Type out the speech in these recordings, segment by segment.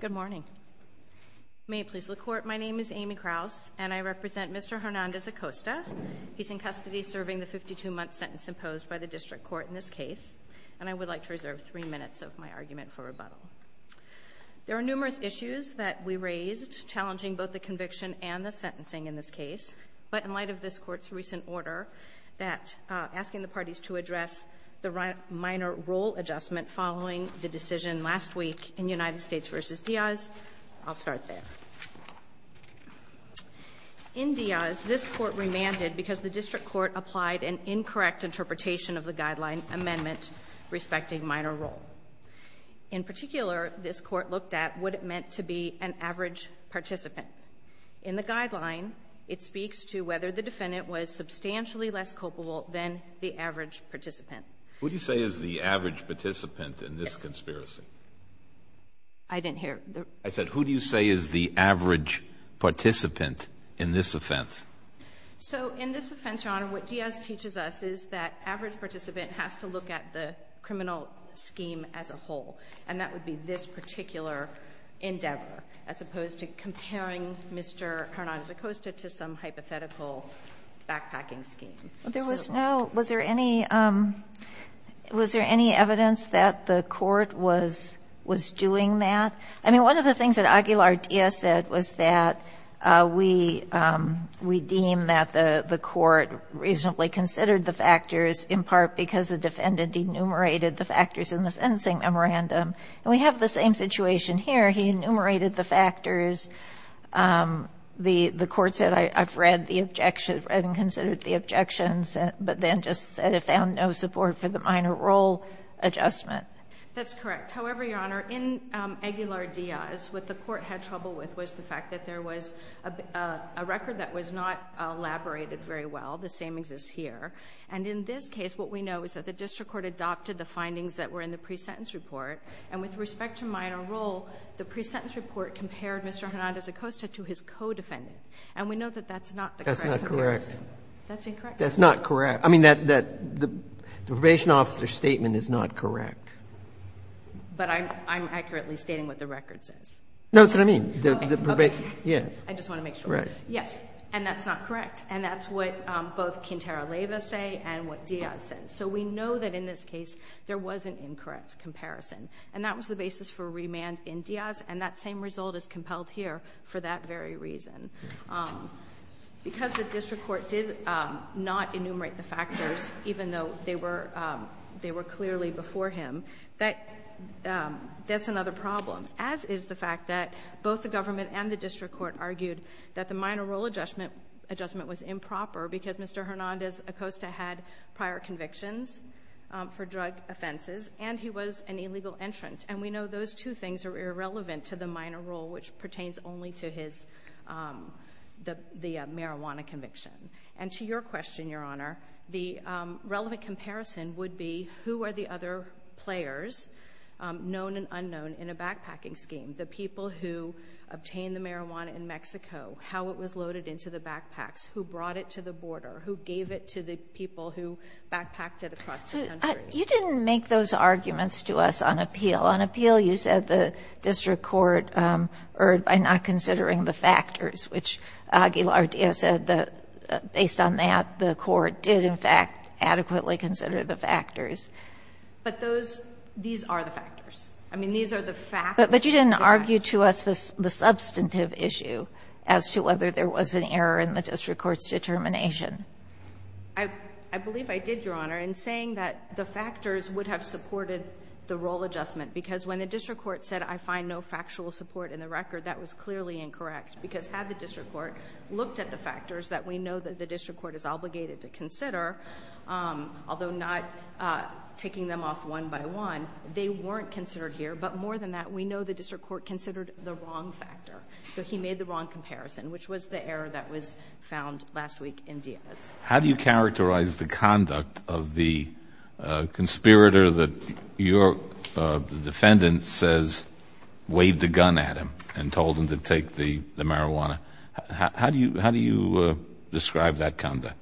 Good morning. May it please the Court, my name is Amy Kraus, and I represent Mr. Hernandez-Acosta. He's in custody serving the 52-month sentence imposed by the District Court in this case, and I would like to reserve three minutes of my argument for rebuttal. There are numerous issues that we raised challenging both the conviction and the sentencing in this case, but in light of this Court's recent order asking the parties to address the minor role adjustment following the decision last week in United States v. Diaz, I'll start there. In Diaz, this Court remanded because the District Court applied an incorrect interpretation of the guideline amendment respecting minor role. In particular, this Court looked at what it meant to be an average participant. In the guideline, it speaks to whether the defendant was substantially less culpable than the average participant. Who do you say is the average participant in this conspiracy? I didn't hear. I said who do you say is the average participant in this offense? So in this offense, Your Honor, what Diaz teaches us is that average participant has to look at the criminal scheme as a whole, and that would be this particular endeavor, as opposed to comparing Mr. Hernandez-Acosta to some hypothetical backpacking scheme. There was no, was there any, was there any evidence that the Court was doing that? I mean, one of the things that Aguilar-Diaz said was that we deem that the Court reasonably considered the factors in part because the defendant enumerated the factors in the sentencing memorandum. And we have the same situation here. He enumerated the factors. The Court said I've read the objection, read and considered the objections, but then just said it found no support for the minor role adjustment. That's correct. However, Your Honor, in Aguilar-Diaz, what the Court had trouble with was the fact that there was a record that was not elaborated very well. The same exists here. And in this case, what we know is that the district court adopted the findings that were in the pre-sentence report, and with respect to minor role, the pre-sentence report compared Mr. Hernandez-Acosta to his co-defendant. And we know that that's not the correct comparison. That's not correct. That's incorrect. That's not correct. I mean, the probation officer's statement is not correct. But I'm accurately stating what the record says. No, that's what I mean. Okay. Okay. Yeah. I just want to make sure. Correct. Yes. And that's not correct. And that's what both Quintero-Leyva say and what Diaz says. So we know that in this case there was an incorrect comparison. And that was the basis for remand in Diaz. And that same result is compelled here for that very reason. Because the district court did not enumerate the factors, even though they were clearly before him, that's another problem, as is the fact that both the government and the district court argued that the minor role adjustment was improper because Mr. Hernandez-Acosta had prior convictions for drug offenses and he was an illegal entrant. And we know those two things are irrelevant to the minor role, which pertains only to his marijuana conviction. And to your question, Your Honor, the relevant comparison would be who are the other players, known and unknown, in a backpacking scheme, the people who obtained the marijuana in Mexico, how it was loaded into the backpacks, who brought it to the border, who gave it to the people who backpacked it across the country. But you didn't make those arguments to us on appeal. On appeal, you said the district court erred by not considering the factors, which Aguilar-Diaz said that, based on that, the court did, in fact, adequately consider the factors. But those — these are the factors. I mean, these are the factors. But you didn't argue to us the substantive issue as to whether there was an error in the district court's determination. I believe I did, Your Honor, in saying that the factors would have supported the role adjustment. Because when the district court said, I find no factual support in the record, that was clearly incorrect. Because had the district court looked at the factors that we know that the district court is obligated to consider, although not taking them off one by one, they weren't considered here. But more than that, we know the district court considered the wrong factor, that he made the wrong comparison, which was the error that was found last week in Diaz. How do you characterize the conduct of the conspirator that your defendant says waved a gun at him and told him to take the marijuana? How do you describe that conduct?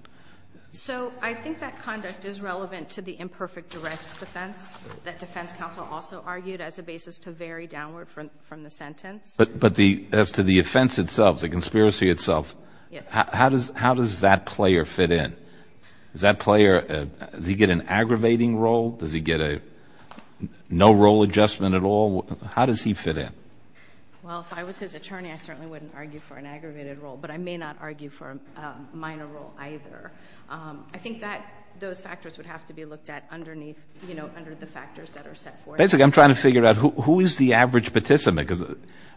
So I think that conduct is relevant to the imperfect directs defense that defense counsel also argued as a basis to vary downward from the sentence. But the — as to the offense itself, the conspiracy itself. Yes. How does that player fit in? Does that player, does he get an aggravating role? Does he get a no role adjustment at all? How does he fit in? Well, if I was his attorney, I certainly wouldn't argue for an aggravated role. But I may not argue for a minor role either. I think that those factors would have to be looked at underneath, you know, under the factors that are set forth. Basically, I'm trying to figure out who is the average participant. Because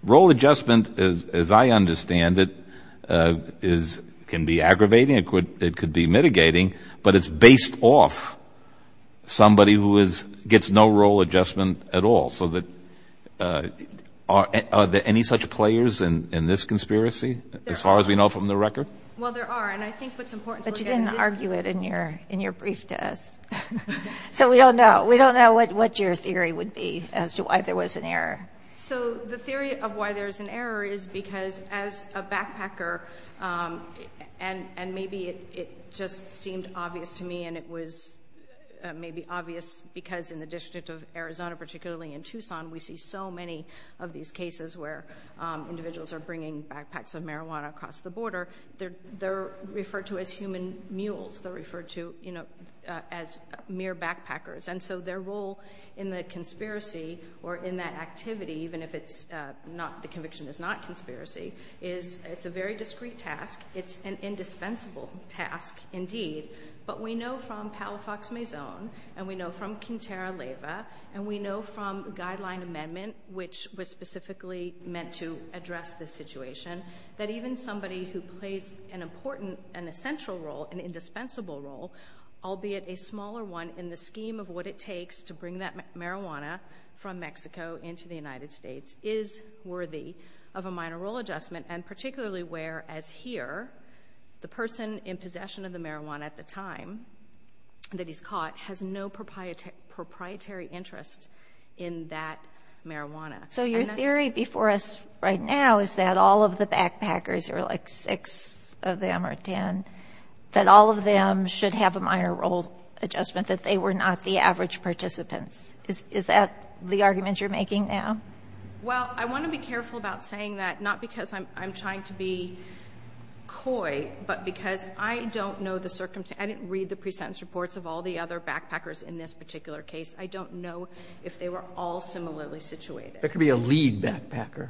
role adjustment, as I understand it, can be aggravating. It could be mitigating. But it's based off somebody who gets no role adjustment at all. So are there any such players in this conspiracy as far as we know from the record? Well, there are. And I think what's important to look at is — But you didn't argue it in your brief test. So we don't know. We don't know what your theory would be as to why there was an error. So the theory of why there's an error is because as a backpacker, and maybe it just seemed obvious to me, and it was maybe obvious because in the District of Arizona, particularly in Tucson, we see so many of these cases where individuals are bringing backpacks of marijuana across the border. They're referred to as human mules. They're referred to, you know, as mere backpackers. And so their role in the conspiracy or in that activity, even if it's not — the conviction is not conspiracy, is it's a very discrete task. It's an indispensable task indeed. But we know from Powell-Fox-Maison, and we know from Quintero-Leyva, and we know from Guideline Amendment, which was specifically meant to address this situation, that even somebody who plays an important and essential role, an indispensable role, albeit a smaller one in the scheme of what it takes to bring that marijuana from Mexico into the United States, is worthy of a minor role adjustment, and particularly where, as here, the person in possession of the marijuana at the time that he's caught has no proprietary interest in that marijuana. So your theory before us right now is that all of the backpackers, or like six of them or ten, that all of them should have a minor role adjustment, that they were not the average participants. Is that the argument you're making now? Well, I want to be careful about saying that, not because I'm trying to be coy, but because I don't know the circumstances. I didn't read the pre-sentence reports of all the other backpackers in this particular case. I don't know if they were all similarly situated. There could be a lead backpacker.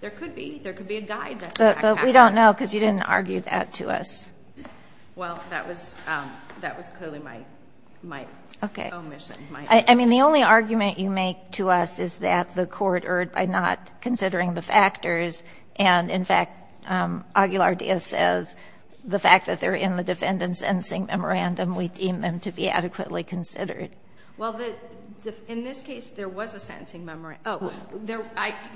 There could be. There could be a guide backpacker. But we don't know because you didn't argue that to us. Well, that was clearly my omission. Okay. I mean, the only argument you make to us is that the court erred by not considering the factors. And, in fact, Aguilar-Diaz says the fact that they're in the defendant's sentencing memorandum, we deem them to be adequately considered. Well, in this case, there was a sentencing memorandum. Oh,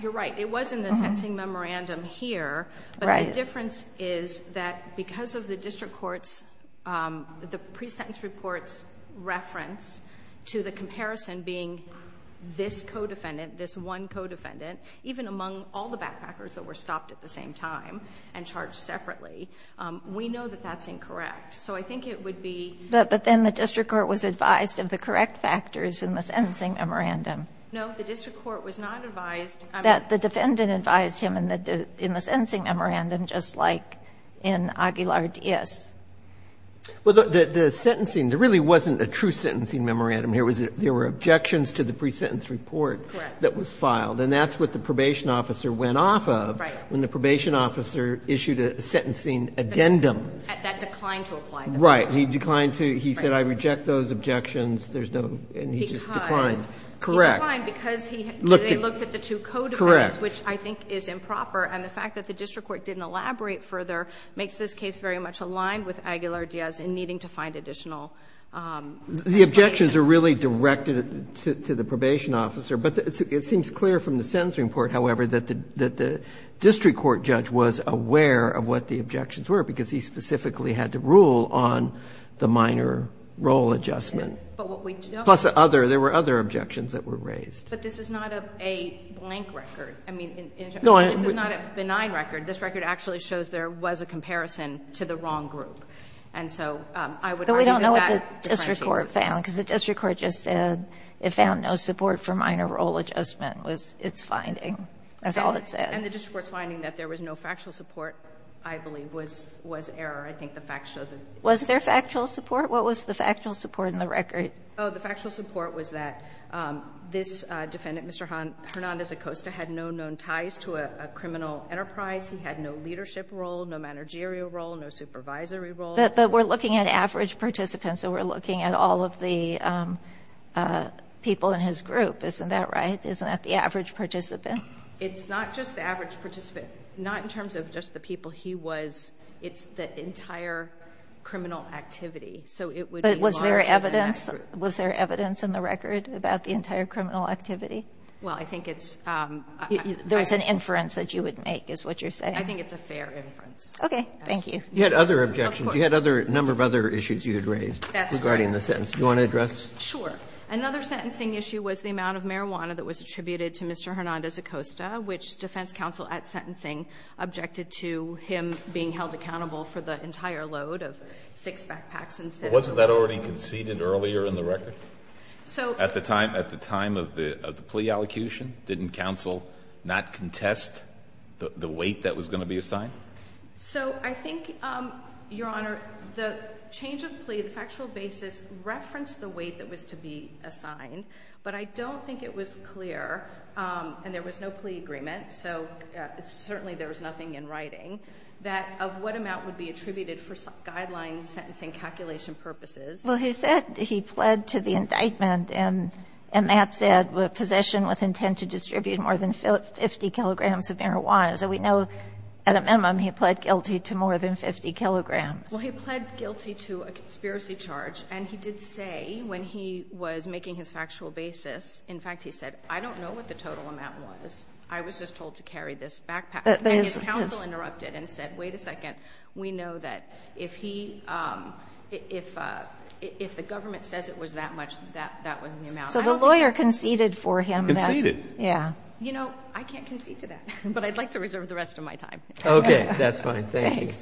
you're right. It was in the sentencing memorandum here. But the difference is that because of the district court's, the pre-sentence report's reference to the comparison being this co-defendant, this one co-defendant, even among all the backpackers that were stopped at the same time and charged separately, we know that that's incorrect. So I think it would be. But then the district court was advised of the correct factors in the sentencing memorandum. No, the district court was not advised. That the defendant advised him in the sentencing memorandum just like in Aguilar-Diaz. Well, the sentencing, there really wasn't a true sentencing memorandum here. There were objections to the pre-sentence report. Correct. That was filed. And that's what the probation officer went off of when the probation officer issued a sentencing addendum. That declined to apply. Right. He declined to. He said, I reject those objections. There's no. And he just declined. Correct. He declined because he looked at the two co-defendants. Correct. Which I think is improper. And the fact that the district court didn't elaborate further makes this case very much aligned with Aguilar-Diaz in needing to find additional explanation. The objections are really directed to the probation officer. But it seems clear from the sentencing report, however, that the district court judge was aware of what the objections were because he specifically had to rule on the minor role adjustment. But what we don't. Plus the other. There were other objections that were raised. But this is not a blank record. I mean, this is not a benign record. This record actually shows there was a comparison to the wrong group. And so I would argue that that differentiates. But we don't know what the district court found, because the district court just said it found no support for minor role adjustment was its finding. That's all it said. And the district court's finding that there was no factual support, I believe, was error. I think the facts show that. Was there factual support? What was the factual support in the record? Oh, the factual support was that this defendant, Mr. Hernandez-Acosta, had no known ties to a criminal enterprise. He had no leadership role, no managerial role, no supervisory role. But we're looking at average participants. So we're looking at all of the people in his group. Isn't that right? Isn't that the average participant? It's not just the average participant. Not in terms of just the people he was. It's the entire criminal activity. So it would be larger than that group. But was there evidence? Was there evidence in the record about the entire criminal activity? Well, I think it's – There was an inference that you would make, is what you're saying. I think it's a fair inference. Okay. Thank you. You had other objections. Of course. You had other – a number of other issues you had raised regarding the sentence. That's right. Do you want to address? Sure. Another sentencing issue was the amount of marijuana that was attributed to Mr. Hernandez-Acosta, which defense counsel at sentencing objected to him being held accountable for the entire load of six backpacks instead of – But wasn't that already conceded earlier in the record? So – At the time of the plea allocution, didn't counsel not contest the weight that was going to be assigned? So I think, Your Honor, the change of plea, the factual basis referenced the weight that was to be assigned. But I don't think it was clear – and there was no plea agreement, so certainly there was nothing in writing – that of what amount would be attributed for guideline sentencing calculation purposes. Well, he said he pled to the indictment, and that said, possession with intent to distribute more than 50 kilograms of marijuana. So we know at a minimum he pled guilty to more than 50 kilograms. Well, he pled guilty to a conspiracy charge, and he did say when he was making his factual basis, in fact, he said, I don't know what the total amount was. I was just told to carry this backpack. And his counsel interrupted and said, wait a second. We know that if he – if the government says it was that much, that was the amount. So the lawyer conceded for him. Conceded. Yeah. You know, I can't concede to that, but I'd like to reserve the rest of my time. Okay. That's fine. Thank you. Thanks.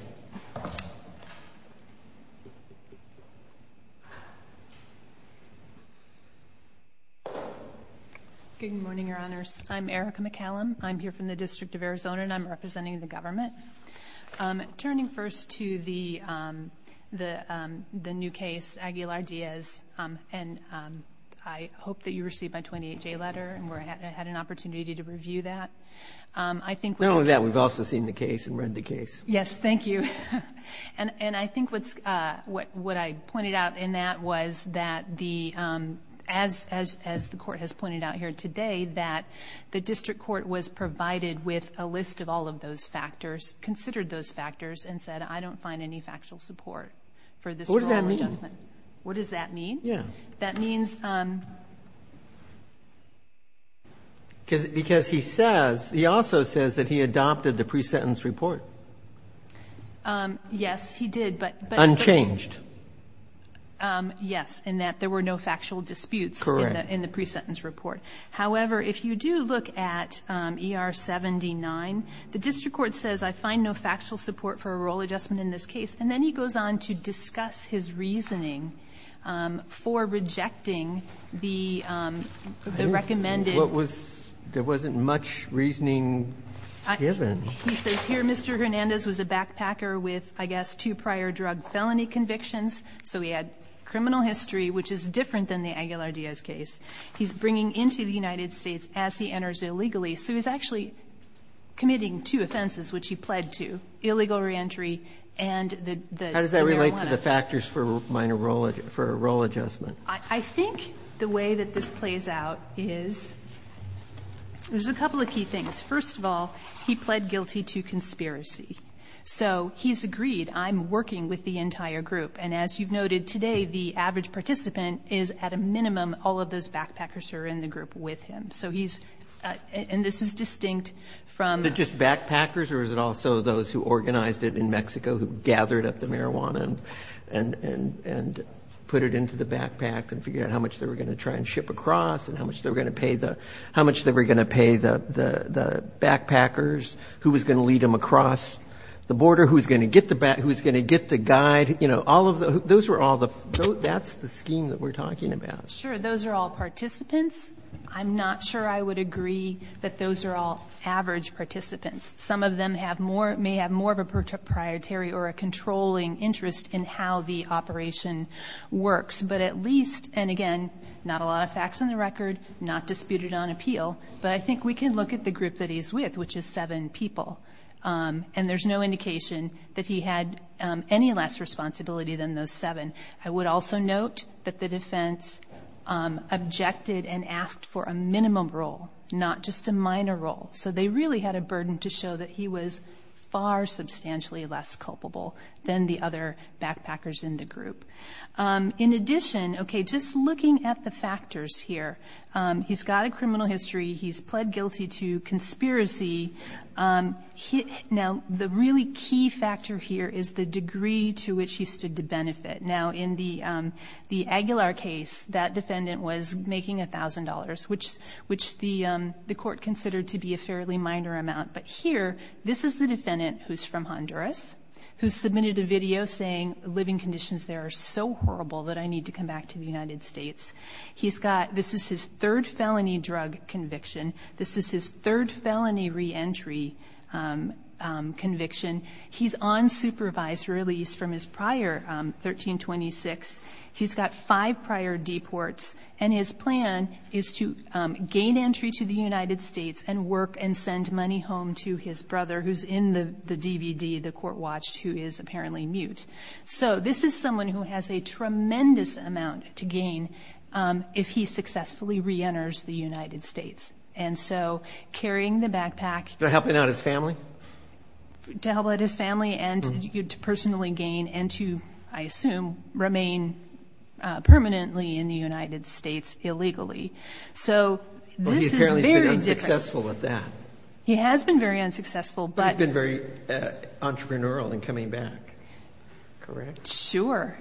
Good morning, Your Honors. I'm Erica McCallum. I'm here from the District of Arizona, and I'm representing the government. Turning first to the new case, Aguilar-Diaz, and I hope that you received my 28-J letter and had an opportunity to review that. Not only that, we've also seen the case and read the case. Yes, thank you. And I think what I pointed out in that was that the – as the Court has pointed out here today, that the district court was provided with a list of all of those factors, considered those factors, and said, I don't find any factual support for this rule of adjustment. What does that mean? What does that mean? Yeah. That means – Because he says – he also says that he adopted the pre-sentence report. Yes, he did, but – Unchanged. Yes, in that there were no factual disputes in the pre-sentence report. However, if you do look at ER-79, the district court says I find no factual support for a rule of adjustment in this case, and then he goes on to discuss his reasoning for rejecting the recommended – What was – there wasn't much reasoning given. He says here Mr. Hernandez was a backpacker with, I guess, two prior drug felony convictions, so he had criminal history, which is different than the Aguilar-Diaz case. He's bringing into the United States as he enters illegally, so he's actually committing two offenses, which he pled to, illegal reentry and the marijuana. How does that relate to the factors for minor rule – for rule adjustment? I think the way that this plays out is there's a couple of key things. First of all, he pled guilty to conspiracy. So he's agreed, I'm working with the entire group. And as you've noted, today the average participant is, at a minimum, all of those backpackers who are in the group with him. So he's – and this is distinct from – Was it just backpackers or was it also those who organized it in Mexico who gathered up the marijuana and put it into the backpack and figured out how much they were going to try and ship across and how much they were going to pay the – how much they were going to pay the backpackers who was going to lead them across the border, who was going to get the – who was going to get the guide, you know, all of the – those were all the – that's the scheme that we're talking about. Sure. Those are all participants. I'm not sure I would agree that those are all average participants. Some of them have more – may have more of a proprietary or a controlling interest in how the operation works. But at least – and again, not a lot of facts on the record, not disputed on appeal, but I think we can look at the group that he's with, which is seven people. And there's no indication that he had any less responsibility than those seven. I would also note that the defense objected and asked for a minimum role, not just a minor role. So they really had a burden to show that he was far substantially less culpable than the other backpackers in the group. In addition, okay, just looking at the factors here, he's got a criminal history, he's pled guilty to conspiracy. Now, the really key factor here is the degree to which he stood to benefit. Now, in the Aguilar case, that defendant was making $1,000, which the court considered to be a fairly minor amount. But here, this is the defendant who's from Honduras, who submitted a video saying living conditions there are so horrible that I need to come back to the United States. This is his third felony drug conviction. This is his third felony reentry conviction. He's on supervised release from his prior 1326. He's got five prior deports, and his plan is to gain entry to the United States and work and send money home to his brother, who's in the DVD the court watched, who is apparently mute. So this is someone who has a tremendous amount to gain if he successfully reenters the United States. And so carrying the backpack. To help out his family? To help out his family and to personally gain and to, I assume, remain permanently in the United States illegally. So this is very different. But he apparently has been unsuccessful at that. He has been very unsuccessful, but. He's been very entrepreneurial in coming back, correct? Sure.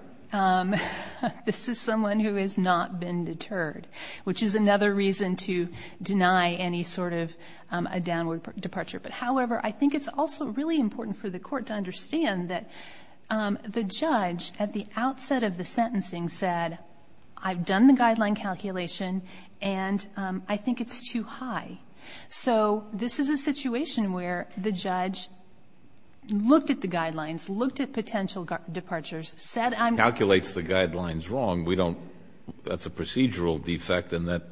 This is someone who has not been deterred, which is another reason to deny any sort of a downward departure. But, however, I think it's also really important for the court to understand that the judge at the outset of the sentencing said, I've done the guideline calculation, and I think it's too high. So this is a situation where the judge looked at the guidelines, looked at potential departures, said I'm... Calculates the guidelines wrong. That's a procedural defect, and that's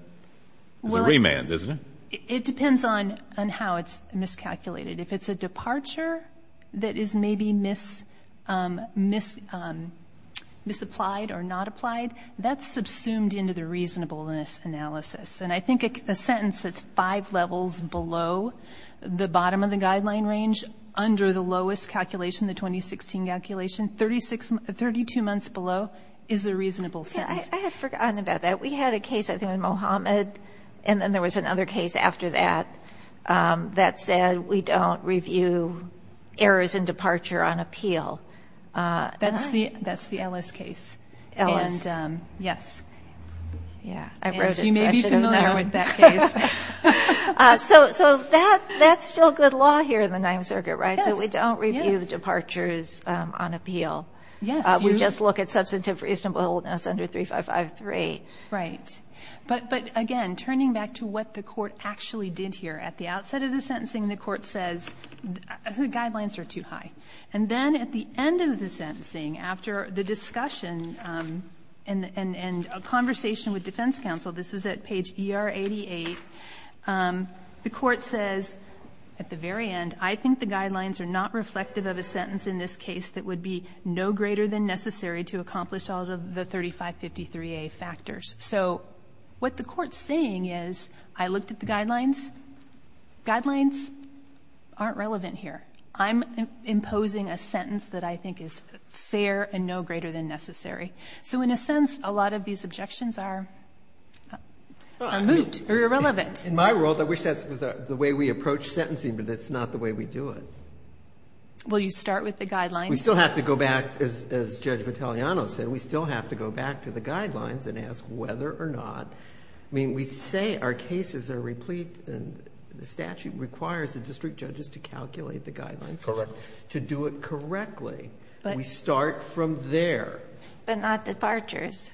a remand, isn't it? It depends on how it's miscalculated. If it's a departure that is maybe misapplied or not applied, that's subsumed into the reasonableness analysis. And I think a sentence that's five levels below the bottom of the guideline range under the lowest calculation, the 2016 calculation, 32 months below is a reasonable sentence. I had forgotten about that. We had a case, I think, on Mohammed, and then there was another case after that that said, we don't review errors in departure on appeal. That's the Ellis case. Ellis. Yes. Yeah, I wrote it. You may be familiar with that case. So that's still good law here in the Ninth Circuit, right? Yes. So we don't review departures on appeal. Yes. We just look at substantive reasonableness under 3553. Right. But, again, turning back to what the court actually did here, at the outset of the sentencing the court says the guidelines are too high. And then at the end of the sentencing, after the discussion and a conversation with defense counsel, this is at page ER88, the court says at the very end, I think the guidelines are not reflective of a sentence in this case that would be no greater than necessary to accomplish all of the 3553A factors. So what the court's saying is, I looked at the guidelines. Guidelines aren't relevant here. I'm imposing a sentence that I think is fair and no greater than necessary. So, in a sense, a lot of these objections are moot or irrelevant. In my world, I wish that was the way we approach sentencing, but that's not the way we do it. Well, you start with the guidelines. We still have to go back, as Judge Vitaliano said, we still have to go back to the guidelines and ask whether or not. I mean, we say our cases are replete, and the statute requires the district judges to calculate the guidelines. Correct. To do it correctly. But we start from there. But not departures.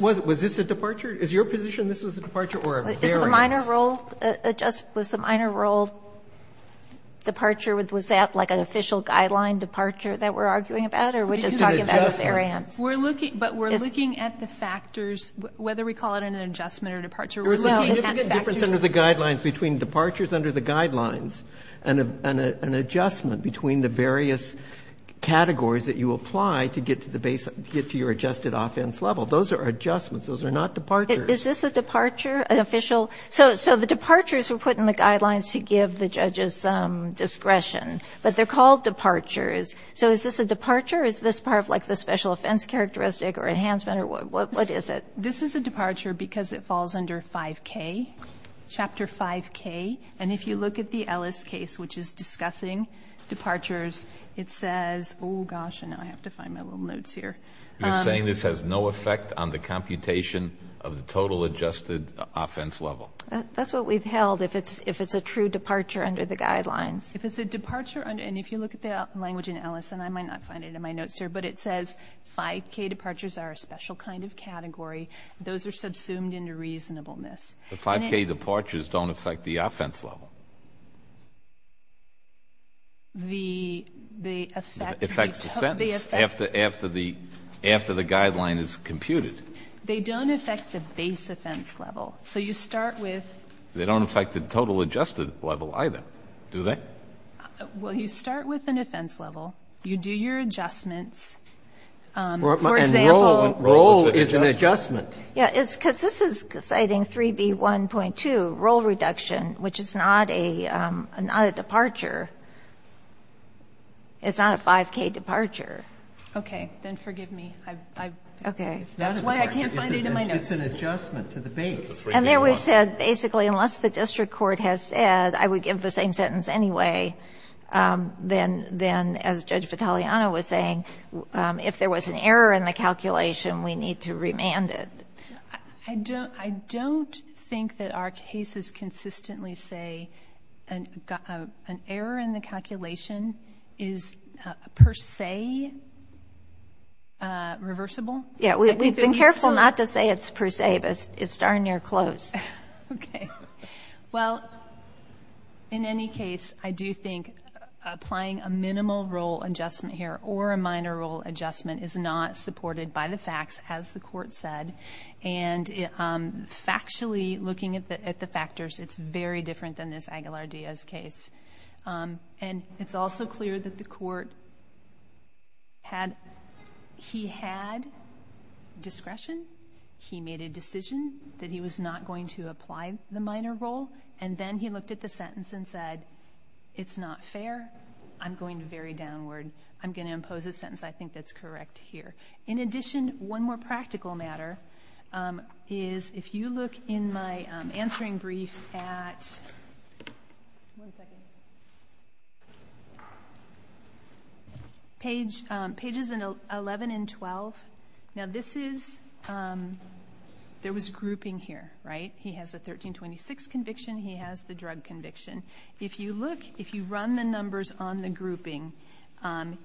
Was this a departure? Is your position this was a departure or a variance? Was the minor role departure? Was that like an official guideline departure that we're arguing about, or are we just talking about a variance? But we're looking at the factors, whether we call it an adjustment or departure There was a significant difference under the guidelines between departures under the guidelines and an adjustment between the various categories that you apply to get to your adjusted offense level. Those are adjustments. Those are not departures. Is this a departure, an official? So the departures were put in the guidelines to give the judges discretion, but they're called departures. So is this a departure, or is this part of like the special offense characteristic or enhancement, or what is it? This is a departure because it falls under 5K, Chapter 5K. And if you look at the Ellis case, which is discussing departures, it says, oh, gosh, now I have to find my little notes here. You're saying this has no effect on the computation of the total adjusted offense level. That's what we've held, if it's a true departure under the guidelines. If it's a departure, and if you look at the language in Ellis, and I might not find it in my notes here, but it says 5K departures are a special kind of category. Those are subsumed into reasonableness. The 5K departures don't affect the offense level. They affect the sentence. After the guideline is computed. They don't affect the base offense level. So you start with. They don't affect the total adjusted level either, do they? Well, you start with an offense level. You do your adjustments. For example. And roll is an adjustment. Yes. Because this is citing 3B1.2, roll reduction, which is not a departure. It's not a 5K departure. Okay. Then forgive me. Okay. That's why I can't find it in my notes. It's an adjustment to the base. And there we said basically unless the district court has said I would give the same rule as Judge Vitaliano was saying, if there was an error in the calculation, we need to remand it. I don't think that our cases consistently say an error in the calculation is per se reversible. Yeah. We've been careful not to say it's per se, but it's darn near close. Okay. Well, in any case, I do think applying a minimal roll adjustment here or a minor roll adjustment is not supported by the facts, as the court said. And factually looking at the factors, it's very different than this Aguilar-Diaz case. And it's also clear that the court had discretion. He made a decision that he was not going to apply the minor roll. And then he looked at the sentence and said, it's not fair. I'm going very downward. I'm going to impose a sentence I think that's correct here. In addition, one more practical matter is if you look in my answering brief at pages 11 and 12. Now this is, there was grouping here, right? He has a 1326 conviction. He has the drug conviction. If you look, if you run the numbers on the grouping,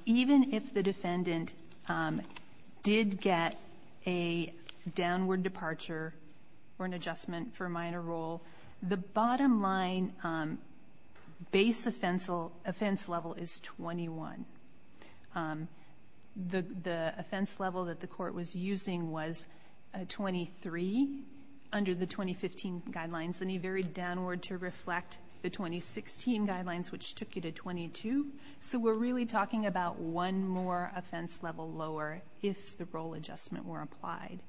even if the defendant did get a downward departure or an adjustment for a minor roll, the bottom line base offense level is 21. The offense level that the court was using was 23 under the 2015 guidelines, and he varied downward to reflect the 2016 guidelines, which took you to 22. So we're really talking about one more offense level lower if the roll adjustment were applied.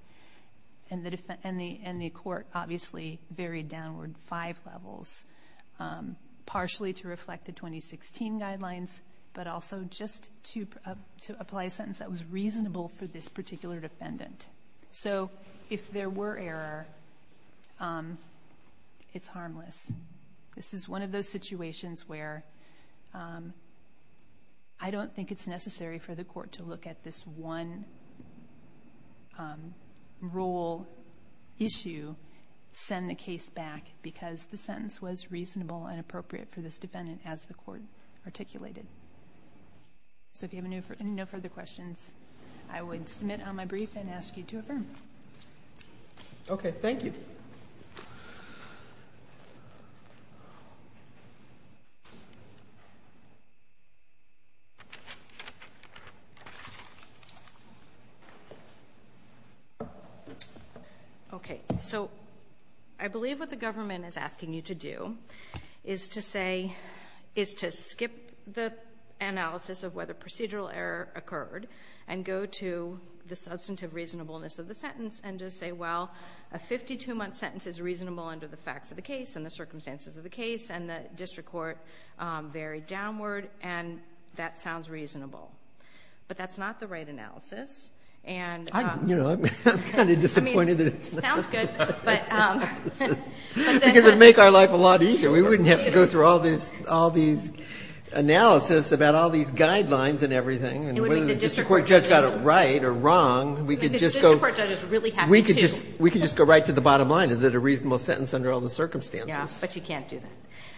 And the court obviously varied downward five levels, partially to reflect the 2016 guidelines, but also just to apply a sentence that was reasonable for this particular defendant. So if there were error, it's harmless. This is one of those situations where I don't think it's necessary for the court to look at this one roll issue, send the case back because the sentence was reasonable and appropriate for this defendant as the court articulated. So if you have no further questions, I would submit on my brief and ask you to affirm. Okay, thank you. Okay. So I believe what the government is asking you to do is to say, is to skip the analysis of whether procedural error occurred and go to the substantive reasonableness of the sentence and just say, well, a 52-month sentence is reasonable under the facts of the case and the circumstances of the case, and the district court varied downward, and that sounds reasonable. But that's not the right analysis. I'm kind of disappointed that it's not. It sounds good. Because it would make our life a lot easier. We wouldn't have to go through all these analyses about all these guidelines and everything, and whether the district court judge got it right or wrong. Because the district court judge is really happy to. We could just go right to the bottom line. Is it a reasonable sentence under all the circumstances? Yeah, but you can't do that.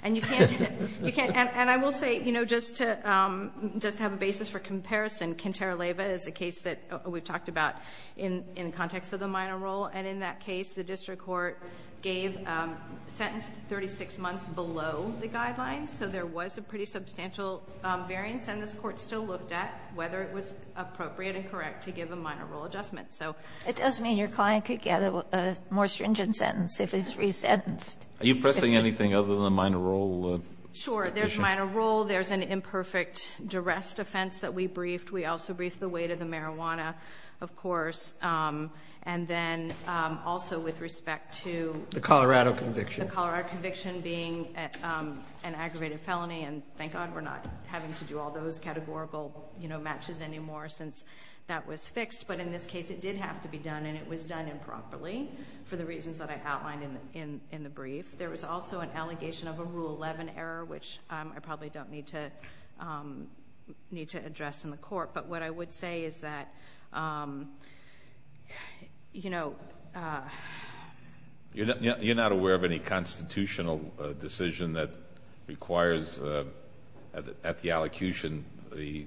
And you can't do that. You can't. And I will say, you know, just to have a basis for comparison, Quintero Leyva is a case that we've talked about in the context of the minor role, and in that case the district court gave a sentence 36 months below the guidelines, so there was a pretty substantial variance, and this Court still looked at whether it was appropriate and correct to give a minor role adjustment. So it does mean your client could get a more stringent sentence if it's resentenced. Are you pressing anything other than the minor role? Sure. There's minor role. There's an imperfect duress defense that we briefed. We also briefed the weight of the marijuana, of course. And then also with respect to the Colorado conviction. The Colorado conviction being an aggravated felony, and thank God we're not having to do all those categorical, you know, matches anymore since that was fixed. But in this case it did have to be done, and it was done improperly for the reasons that I outlined in the brief. There was also an allegation of a Rule 11 error, which I probably don't need to address in the Court. But what I would say is that, you know... You're not aware of any constitutional decision that requires, at the allocution, the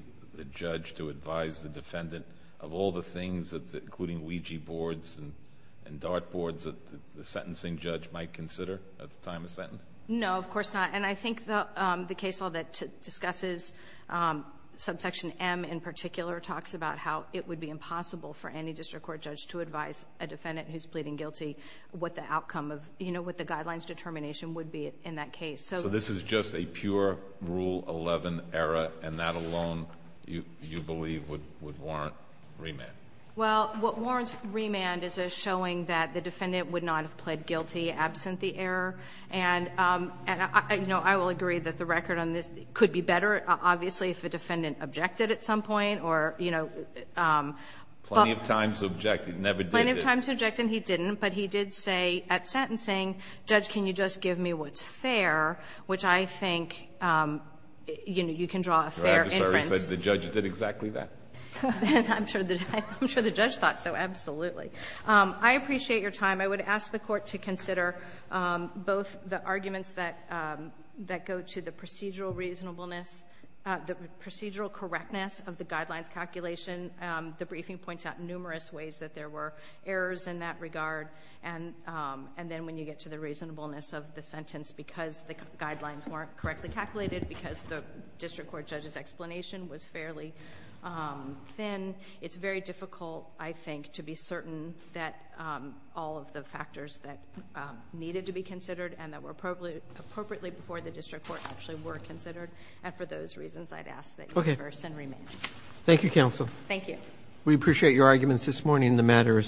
judge to advise the defendant of all the things, including Ouija boards and dart boards, that the sentencing judge might consider at the time of sentence? No, of course not. And I think the case law that discusses subsection M in particular talks about how it would be impossible for any district court judge to advise a defendant who's pleading guilty what the outcome of, you know, what the guidelines determination would be in that case. So... So this is just a pure Rule 11 error, and that alone, you believe, would warrant remand? Well, what warrants remand is a showing that the defendant would not have pled guilty absent the error. And, you know, I will agree that the record on this could be better, obviously, if the defendant objected at some point or, you know... Plenty of times he objected. He never did. Plenty of times he objected, and he didn't. But he did say at sentencing, Judge, can you just give me what's fair, which I think you can draw a fair inference. Your adversary said the judge did exactly that? I'm sure the judge thought so, absolutely. I appreciate your time. I would ask the Court to consider both the arguments that go to the procedural reasonableness... the procedural correctness of the guidelines calculation. The briefing points out numerous ways that there were errors in that regard. And then when you get to the reasonableness of the sentence because the guidelines weren't correctly calculated, because the District Court judge's explanation was fairly thin, it's very difficult, I think, to be certain that all of the factors that needed to be considered and that were appropriately before the judge considered. And for those reasons, I'd ask that you reverse and remain. Okay. Thank you, Counsel. Thank you. We appreciate your arguments this morning. The matter is submitted.